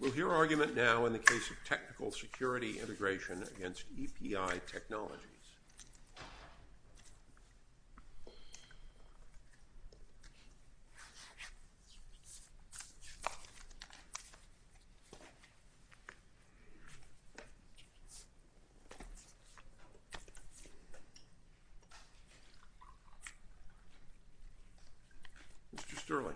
We will hear argument now in the case of technical security integration against EPI Technologies. Mr. Sterling.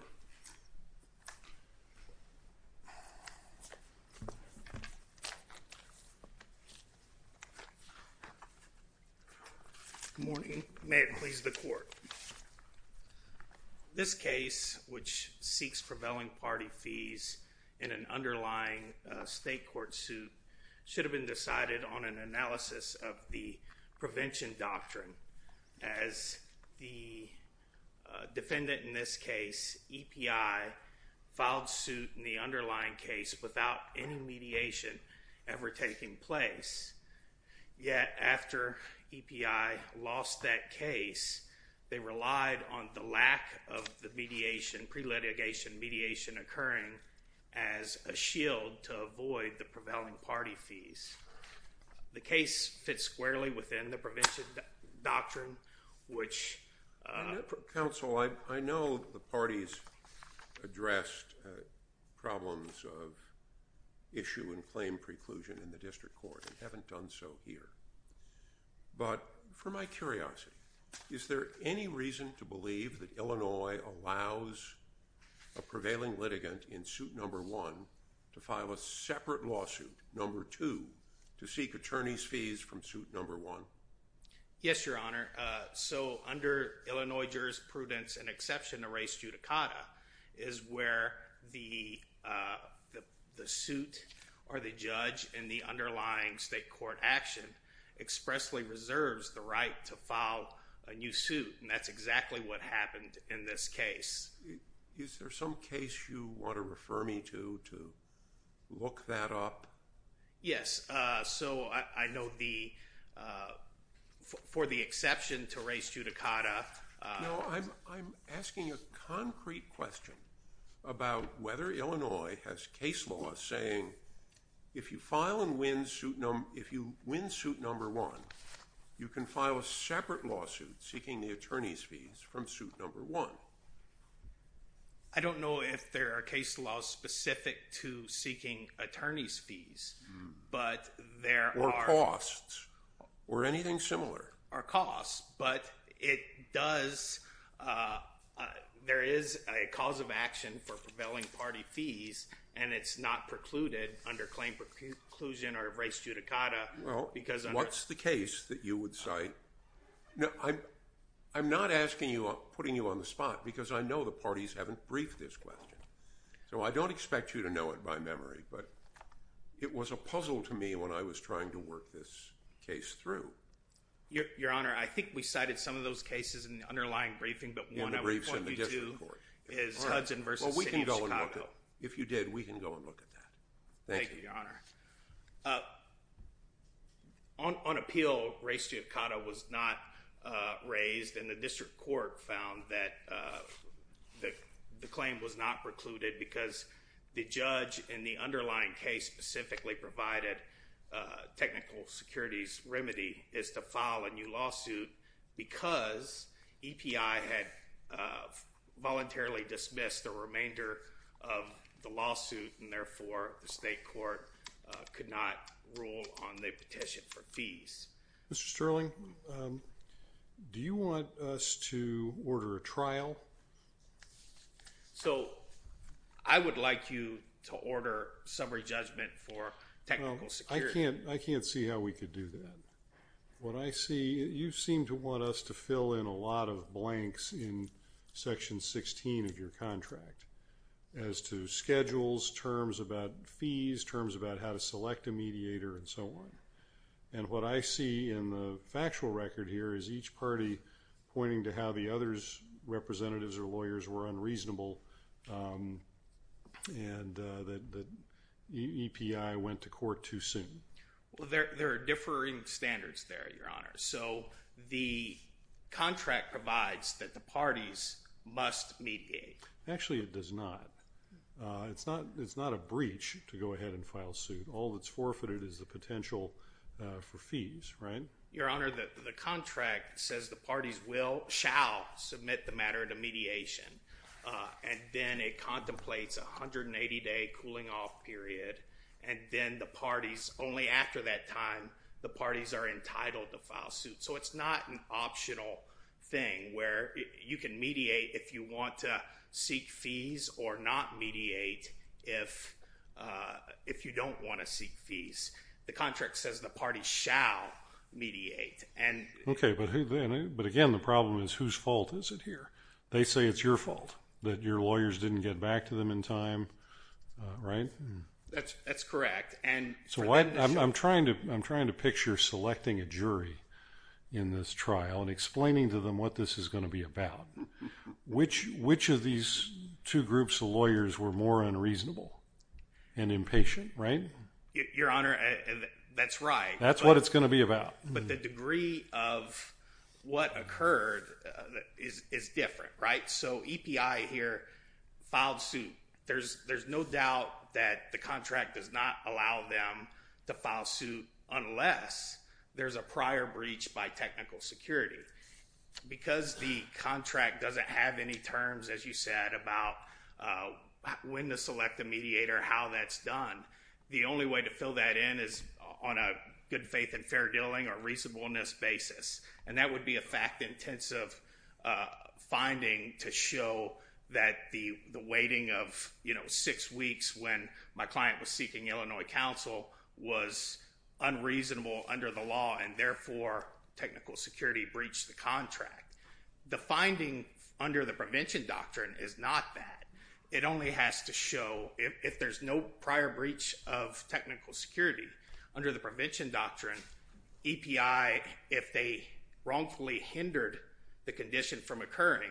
Defendant in this case, EPI, filed suit in the underlying case without any mediation ever taking place. Yet, after EPI lost that case, they relied on the lack of the mediation, pre-litigation mediation occurring as a shield to avoid the prevailing party fees. The case fits squarely within the prevention doctrine, which… Mr. Counsel, I know the parties addressed problems of issue and claim preclusion in the district court and haven't done so here. But for my curiosity, is there any reason to believe that Illinois allows a prevailing litigant in suit number one to file a separate lawsuit, number two, to seek attorney's fees from suit number one? Yes, Your Honor. So under Illinois Jurisprudence, an exception to res judicata is where the suit or the judge in the underlying state court action expressly reserves the right to file a new suit. And that's exactly what happened in this case. Is there some case you want to refer me to to look that up? Yes. So I know the – for the exception to res judicata… No, I'm asking a concrete question about whether Illinois has case law saying if you file and win suit – if you win suit number one, you can file a separate lawsuit seeking the attorney's fees from suit number one. I don't know if there are case laws specific to seeking attorney's fees, but there are… Or costs. Or anything similar. Or costs. But it does – there is a cause of action for prevailing party fees, and it's not precluded under claim preclusion or res judicata because… What's the case that you would cite? I'm not asking you – putting you on the spot because I know the parties haven't briefed this question. So I don't expect you to know it by memory, but it was a puzzle to me when I was trying to work this case through. Your Honor, I think we cited some of those cases in the underlying briefing, but one I would point you to is Hudson v. City of Chicago. If you did, we can go and look at that. Thank you. Thank you, Your Honor. On appeal, res judicata was not raised, and the district court found that the claim was not precluded because the judge in the underlying case specifically provided technical securities remedy is to file a new lawsuit because EPI had voluntarily dismissed the remainder of the lawsuit, and therefore the state court could not rule on the petition for fees. Mr. Sterling, do you want us to order a trial? So I would like you to order summary judgment for technical security. I can't see how we could do that. What I see – you seem to want us to fill in a lot of blanks in Section 16 of your contract as to schedules, terms about fees, terms about how to select a mediator, and so on. And what I see in the factual record here is each party pointing to how the other representatives or lawyers were unreasonable and that EPI went to court too soon. Well, there are differing standards there, Your Honor. So the contract provides that the parties must mediate. Actually, it does not. It's not a breach to go ahead and file suit. All that's forfeited is the potential for fees, right? Your Honor, the contract says the parties will – shall submit the matter to mediation. And then it contemplates a 180-day cooling-off period, and then the parties – only after that time, the parties are entitled to file suit. So it's not an optional thing where you can mediate if you want to seek fees or not mediate if you don't want to seek fees. The contract says the parties shall mediate. Okay, but again, the problem is whose fault is it here? They say it's your fault that your lawyers didn't get back to them in time, right? That's correct. I'm trying to picture selecting a jury in this trial and explaining to them what this is going to be about. Which of these two groups of lawyers were more unreasonable and impatient, right? Your Honor, that's right. That's what it's going to be about. But the degree of what occurred is different, right? So EPI here filed suit. There's no doubt that the contract does not allow them to file suit unless there's a prior breach by technical security. Because the contract doesn't have any terms, as you said, about when to select a mediator, how that's done, the only way to fill that in is on a good faith and fair dealing or reasonableness basis. And that would be a fact-intensive finding to show that the waiting of, you know, six weeks when my client was seeking Illinois counsel was unreasonable under the law and therefore technical security breached the contract. The finding under the prevention doctrine is not that. It only has to show if there's no prior breach of technical security. Under the prevention doctrine, EPI, if they wrongfully hindered the condition from occurring,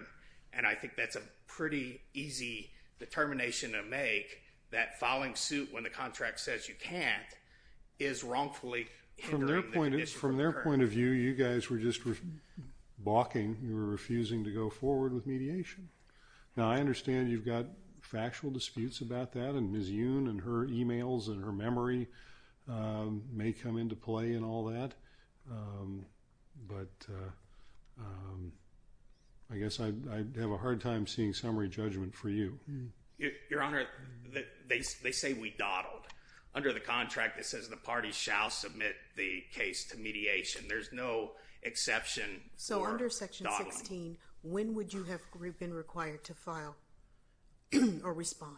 and I think that's a pretty easy determination to make, that filing suit when the contract says you can't is wrongfully hindering the condition from occurring. From their point of view, you guys were just balking. You were refusing to go forward with mediation. Now, I understand you've got factual disputes about that, and Ms. Yoon and her e-mails and her memory may come into play in all that. But I guess I'd have a hard time seeing summary judgment for you. Your Honor, they say we dawdled. Under the contract, it says the party shall submit the case to mediation. There's no exception for dawdling. When would you have been required to file or respond?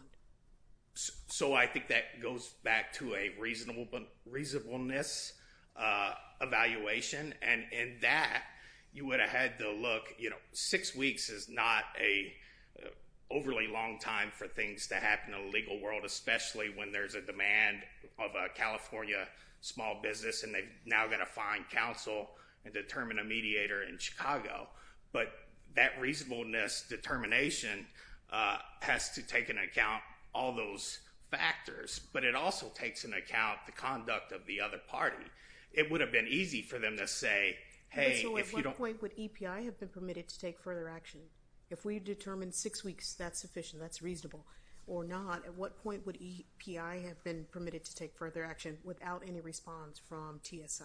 So I think that goes back to a reasonableness evaluation, and in that, you would have had to look. Six weeks is not an overly long time for things to happen in the legal world, especially when there's a demand of a California small business, and they've now got to find counsel and determine a mediator in Chicago. But that reasonableness determination has to take into account all those factors, but it also takes into account the conduct of the other party. It would have been easy for them to say, hey, if you don't— So at what point would EPI have been permitted to take further action? If we determined six weeks, that's sufficient, that's reasonable. Or not, at what point would EPI have been permitted to take further action without any response from TSI?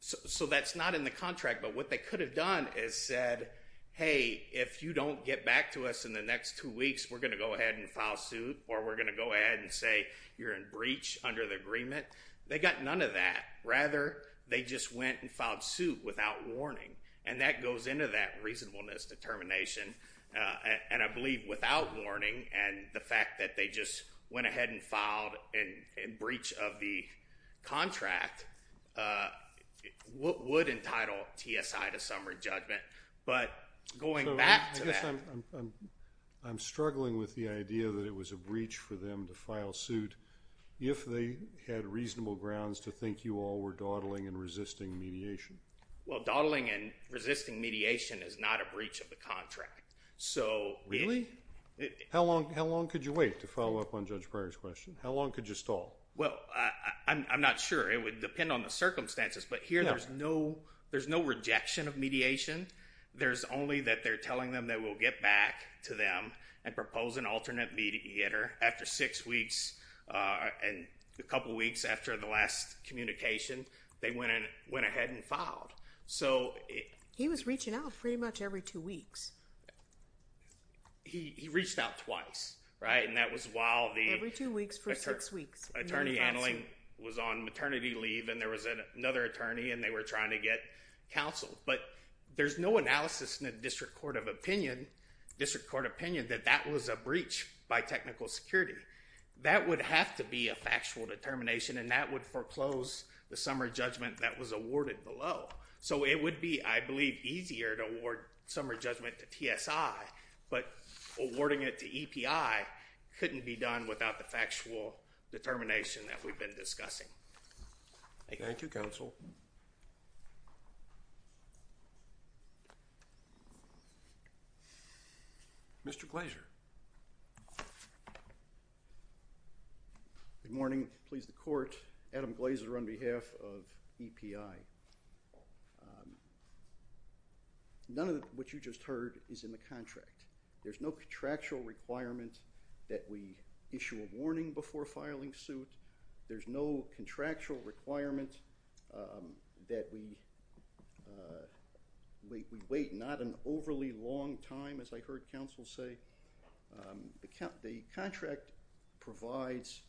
So that's not in the contract, but what they could have done is said, hey, if you don't get back to us in the next two weeks, we're going to go ahead and file suit, or we're going to go ahead and say you're in breach under the agreement. They got none of that. Rather, they just went and filed suit without warning, and that goes into that reasonableness determination, and I believe without warning and the fact that they just went ahead and filed in breach of the contract would entitle TSI to summary judgment. But going back to that— So I guess I'm struggling with the idea that it was a breach for them to file suit if they had reasonable grounds to think you all were dawdling and resisting mediation. Well, dawdling and resisting mediation is not a breach of the contract. Really? How long could you wait to follow up on Judge Breyer's question? How long could you stall? Well, I'm not sure. It would depend on the circumstances, but here there's no rejection of mediation. There's only that they're telling them they will get back to them and propose an alternate mediator after six weeks He was reaching out pretty much every two weeks. He reached out twice, right? And that was while the attorney handling was on maternity leave and there was another attorney and they were trying to get counsel. But there's no analysis in the district court opinion that that was a breach by technical security. That would have to be a factual determination, and that would foreclose the summer judgment that was awarded below. So it would be, I believe, easier to award summer judgment to TSI, but awarding it to EPI couldn't be done without the factual determination that we've been discussing. Thank you, counsel. Mr. Glazer. Good morning. Please, the court. Adam Glazer on behalf of EPI. None of what you just heard is in the contract. There's no contractual requirement that we issue a warning before filing suit. There's no contractual requirement that we wait not an overly long time, as I heard counsel say. The contract provides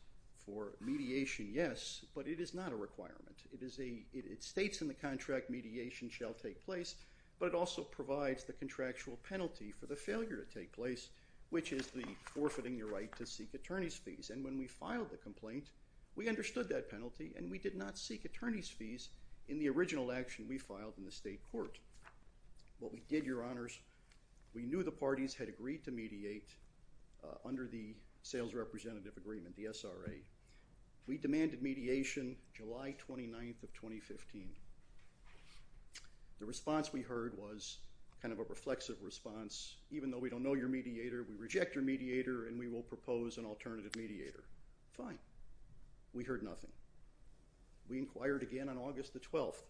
for mediation, yes, but it is not a requirement. It states in the contract mediation shall take place, but it also provides the contractual penalty for the failure to take place, which is the forfeiting your right to seek attorney's fees. And when we filed the complaint, we understood that penalty and we did not seek attorney's fees in the original action we filed in the state court. What we did, your honors, we knew the parties had agreed to mediate under the sales representative agreement, the SRA. We demanded mediation July 29th of 2015. The response we heard was kind of a reflexive response. Even though we don't know your mediator, we reject your mediator and we will propose an alternative mediator. Fine. We heard nothing. We inquired again on August the 12th.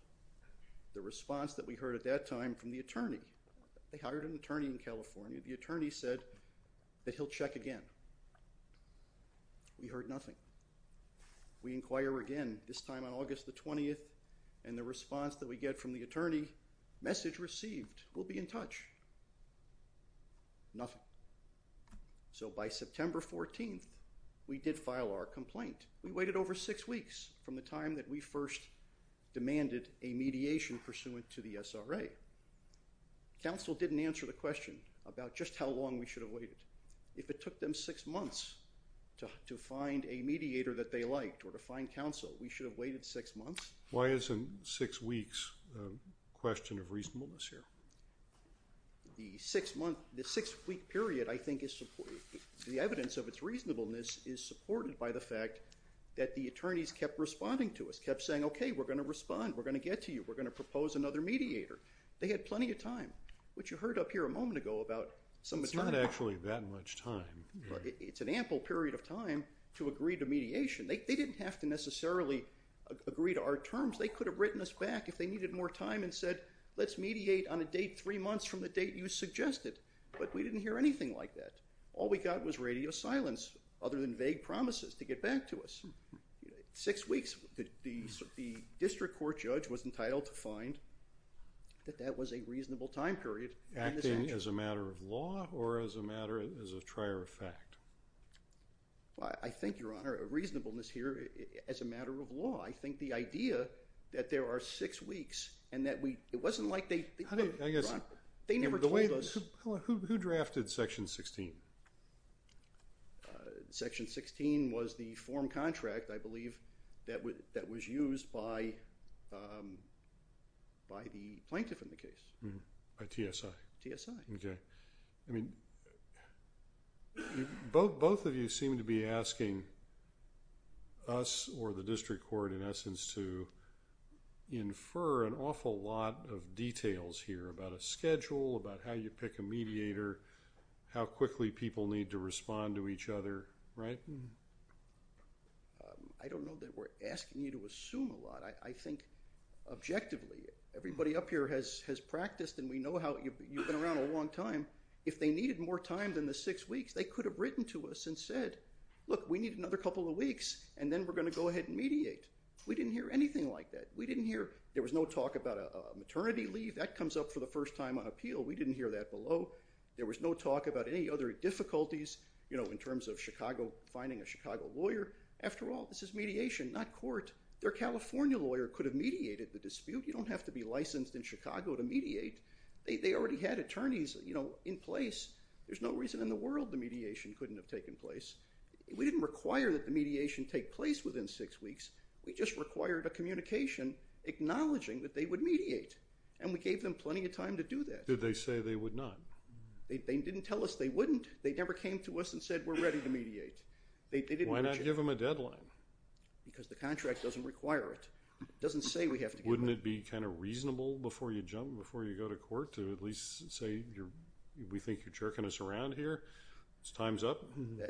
The response that we heard at that time from the attorney, they hired an attorney in California, the attorney said that he'll check again. We heard nothing. We inquire again, this time on August the 20th, and the response that we get from the attorney, message received, we'll be in touch. Nothing. So by September 14th, we did file our complaint. We waited over six weeks from the time that we first demanded a mediation pursuant to the SRA. Counsel didn't answer the question about just how long we should have waited. If it took them six months to find a mediator that they liked or to find counsel, we should have waited six months. Why isn't six weeks a question of reasonableness here? The six-week period, I think, the evidence of its reasonableness is supported by the fact that the attorneys kept responding to us, kept saying, okay, we're going to respond, we're going to get to you, we're going to propose another mediator. They had plenty of time, which you heard up here a moment ago about some of the time. It's not actually that much time. It's an ample period of time to agree to mediation. They didn't have to necessarily agree to our terms. They could have written us back if they needed more time and said, let's mediate on a date three months from the date you suggested. But we didn't hear anything like that. All we got was radio silence other than vague promises to get back to us. Six weeks, the district court judge was entitled to find that that was a reasonable time period. Acting as a matter of law or as a matter as a trier of fact? I think, Your Honor, reasonableness here as a matter of law. I think the idea that there are six weeks and that we – it wasn't like they – They never told us – Who drafted Section 16? Section 16 was the form contract, I believe, that was used by the plaintiff in the case. By TSI. TSI. Okay. Both of you seem to be asking us or the district court in essence to infer an awful lot of details here about a schedule, about how you pick a mediator, how quickly people need to respond to each other, right? I don't know that we're asking you to assume a lot. I think objectively everybody up here has practiced and we know how – you've been around a long time. If they needed more time than the six weeks, they could have written to us and said, look, we need another couple of weeks and then we're going to go ahead and mediate. We didn't hear anything like that. We didn't hear – there was no talk about a maternity leave. That comes up for the first time on appeal. We didn't hear that below. There was no talk about any other difficulties in terms of finding a Chicago lawyer. After all, this is mediation, not court. Their California lawyer could have mediated the dispute. You don't have to be licensed in Chicago to mediate. They already had attorneys in place. There's no reason in the world the mediation couldn't have taken place. We didn't require that the mediation take place within six weeks. We just required a communication acknowledging that they would mediate, and we gave them plenty of time to do that. Did they say they would not? They didn't tell us they wouldn't. They never came to us and said, we're ready to mediate. Why not give them a deadline? Because the contract doesn't require it. It doesn't say we have to give it. Wouldn't it be kind of reasonable before you jump, before you go to court, to at least say we think you're jerking us around here, it's time's up?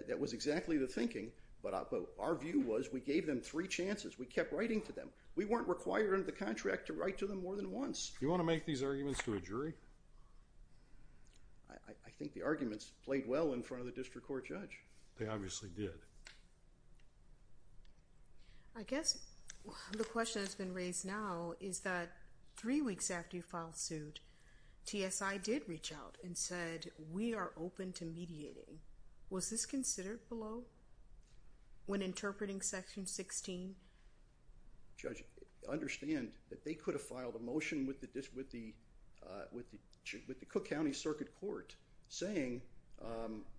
That was exactly the thinking, but our view was we gave them three chances. We kept writing to them. We weren't required under the contract to write to them more than once. You want to make these arguments to a jury? I think the arguments played well in front of the district court judge. They obviously did. I guess the question that's been raised now is that three weeks after you filed suit, TSI did reach out and said, we are open to mediating. Was this considered below when interpreting Section 16? Judge, understand that they could have filed a motion with the Cook County Circuit Court saying,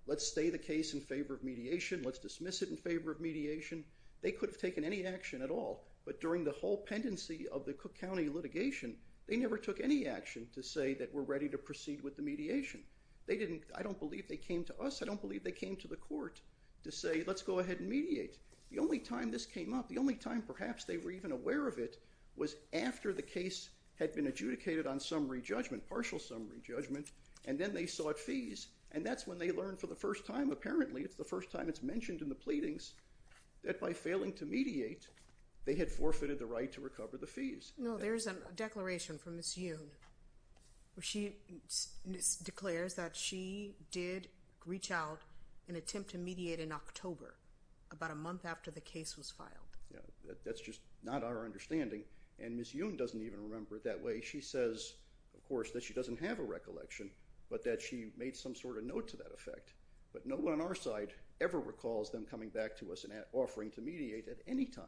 let's stay the case in favor of mediation. Let's dismiss it in favor of mediation. They could have taken any action at all. But during the whole pendency of the Cook County litigation, they never took any action to say that we're ready to proceed with the mediation. I don't believe they came to us. I don't believe they came to the court to say, let's go ahead and mediate. The only time this came up, the only time perhaps they were even aware of it, was after the case had been adjudicated on summary judgment, partial summary judgment, and then they sought fees. And that's when they learned for the first time, apparently, it's the first time it's mentioned in the pleadings, that by failing to mediate, they had forfeited the right to recover the fees. No, there's a declaration from Ms. Yoon. She declares that she did reach out and attempt to mediate in October, about a month after the case was filed. That's just not our understanding. And Ms. Yoon doesn't even remember it that way. She says, of course, that she doesn't have a recollection, but that she made some sort of note to that effect. But no one on our side ever recalls them coming back to us and offering to mediate at any time.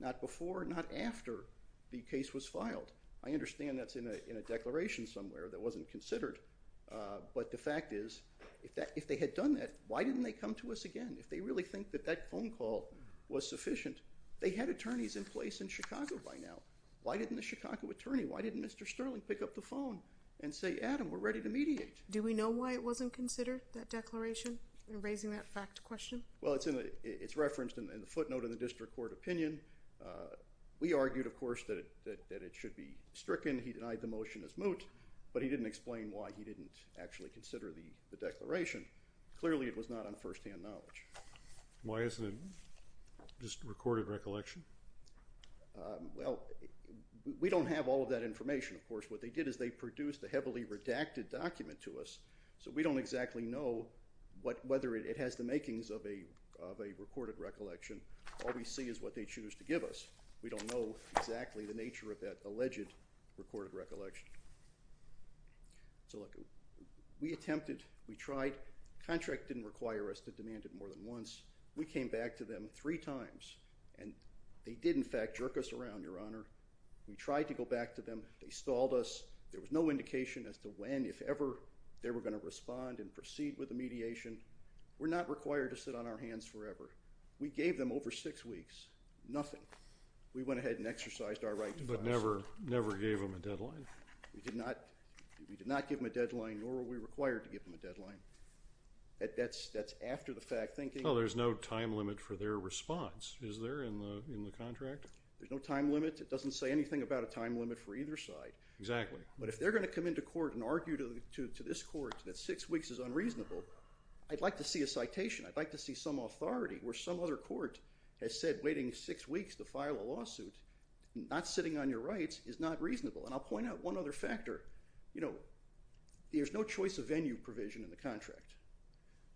Not before, not after the case was filed. I understand that's in a declaration somewhere that wasn't considered. But the fact is, if they had done that, why didn't they come to us again? If they really think that that phone call was sufficient, they had attorneys in place in Chicago by now. Why didn't the Chicago attorney, why didn't Mr. Sterling pick up the phone and say, Adam, we're ready to mediate? Do we know why it wasn't considered, that declaration, in raising that fact question? Well, it's referenced in the footnote in the district court opinion. We argued, of course, that it should be stricken. He denied the motion as moot, but he didn't explain why he didn't actually consider the declaration. Clearly, it was not on firsthand knowledge. Why isn't it just recorded recollection? Well, we don't have all of that information, of course. What they did is they produced a heavily redacted document to us, so we don't exactly know whether it has the makings of a recorded recollection. All we see is what they choose to give us. We don't know exactly the nature of that alleged recorded recollection. So, look, we attempted, we tried. Contract didn't require us to demand it more than once. We came back to them three times, and they did, in fact, jerk us around, Your Honor. We tried to go back to them. They stalled us. There was no indication as to when, if ever, they were going to respond and proceed with the mediation. We're not required to sit on our hands forever. We gave them over six weeks, nothing. We went ahead and exercised our right to file. But never gave them a deadline? We did not give them a deadline, nor were we required to give them a deadline. That's after the fact. Well, there's no time limit for their response, is there, in the contract? There's no time limit. It doesn't say anything about a time limit for either side. Exactly. But if they're going to come into court and argue to this court that six weeks is unreasonable, I'd like to see a citation. I'd like to see some authority where some other court has said waiting six weeks to file a lawsuit, not sitting on your rights, is not reasonable. And I'll point out one other factor. You know, there's no choice of venue provision in the contract.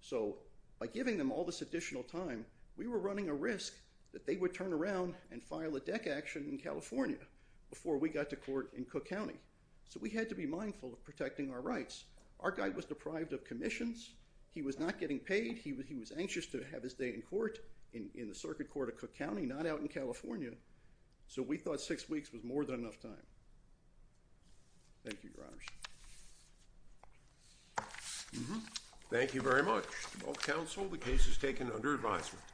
So by giving them all this additional time, before we got to court in Cook County. So we had to be mindful of protecting our rights. Our guy was deprived of commissions. He was not getting paid. He was anxious to have his day in court, in the circuit court of Cook County, not out in California. So we thought six weeks was more than enough time. Thank you, Your Honors. Thank you very much. To both counsel, the case is taken under advisement.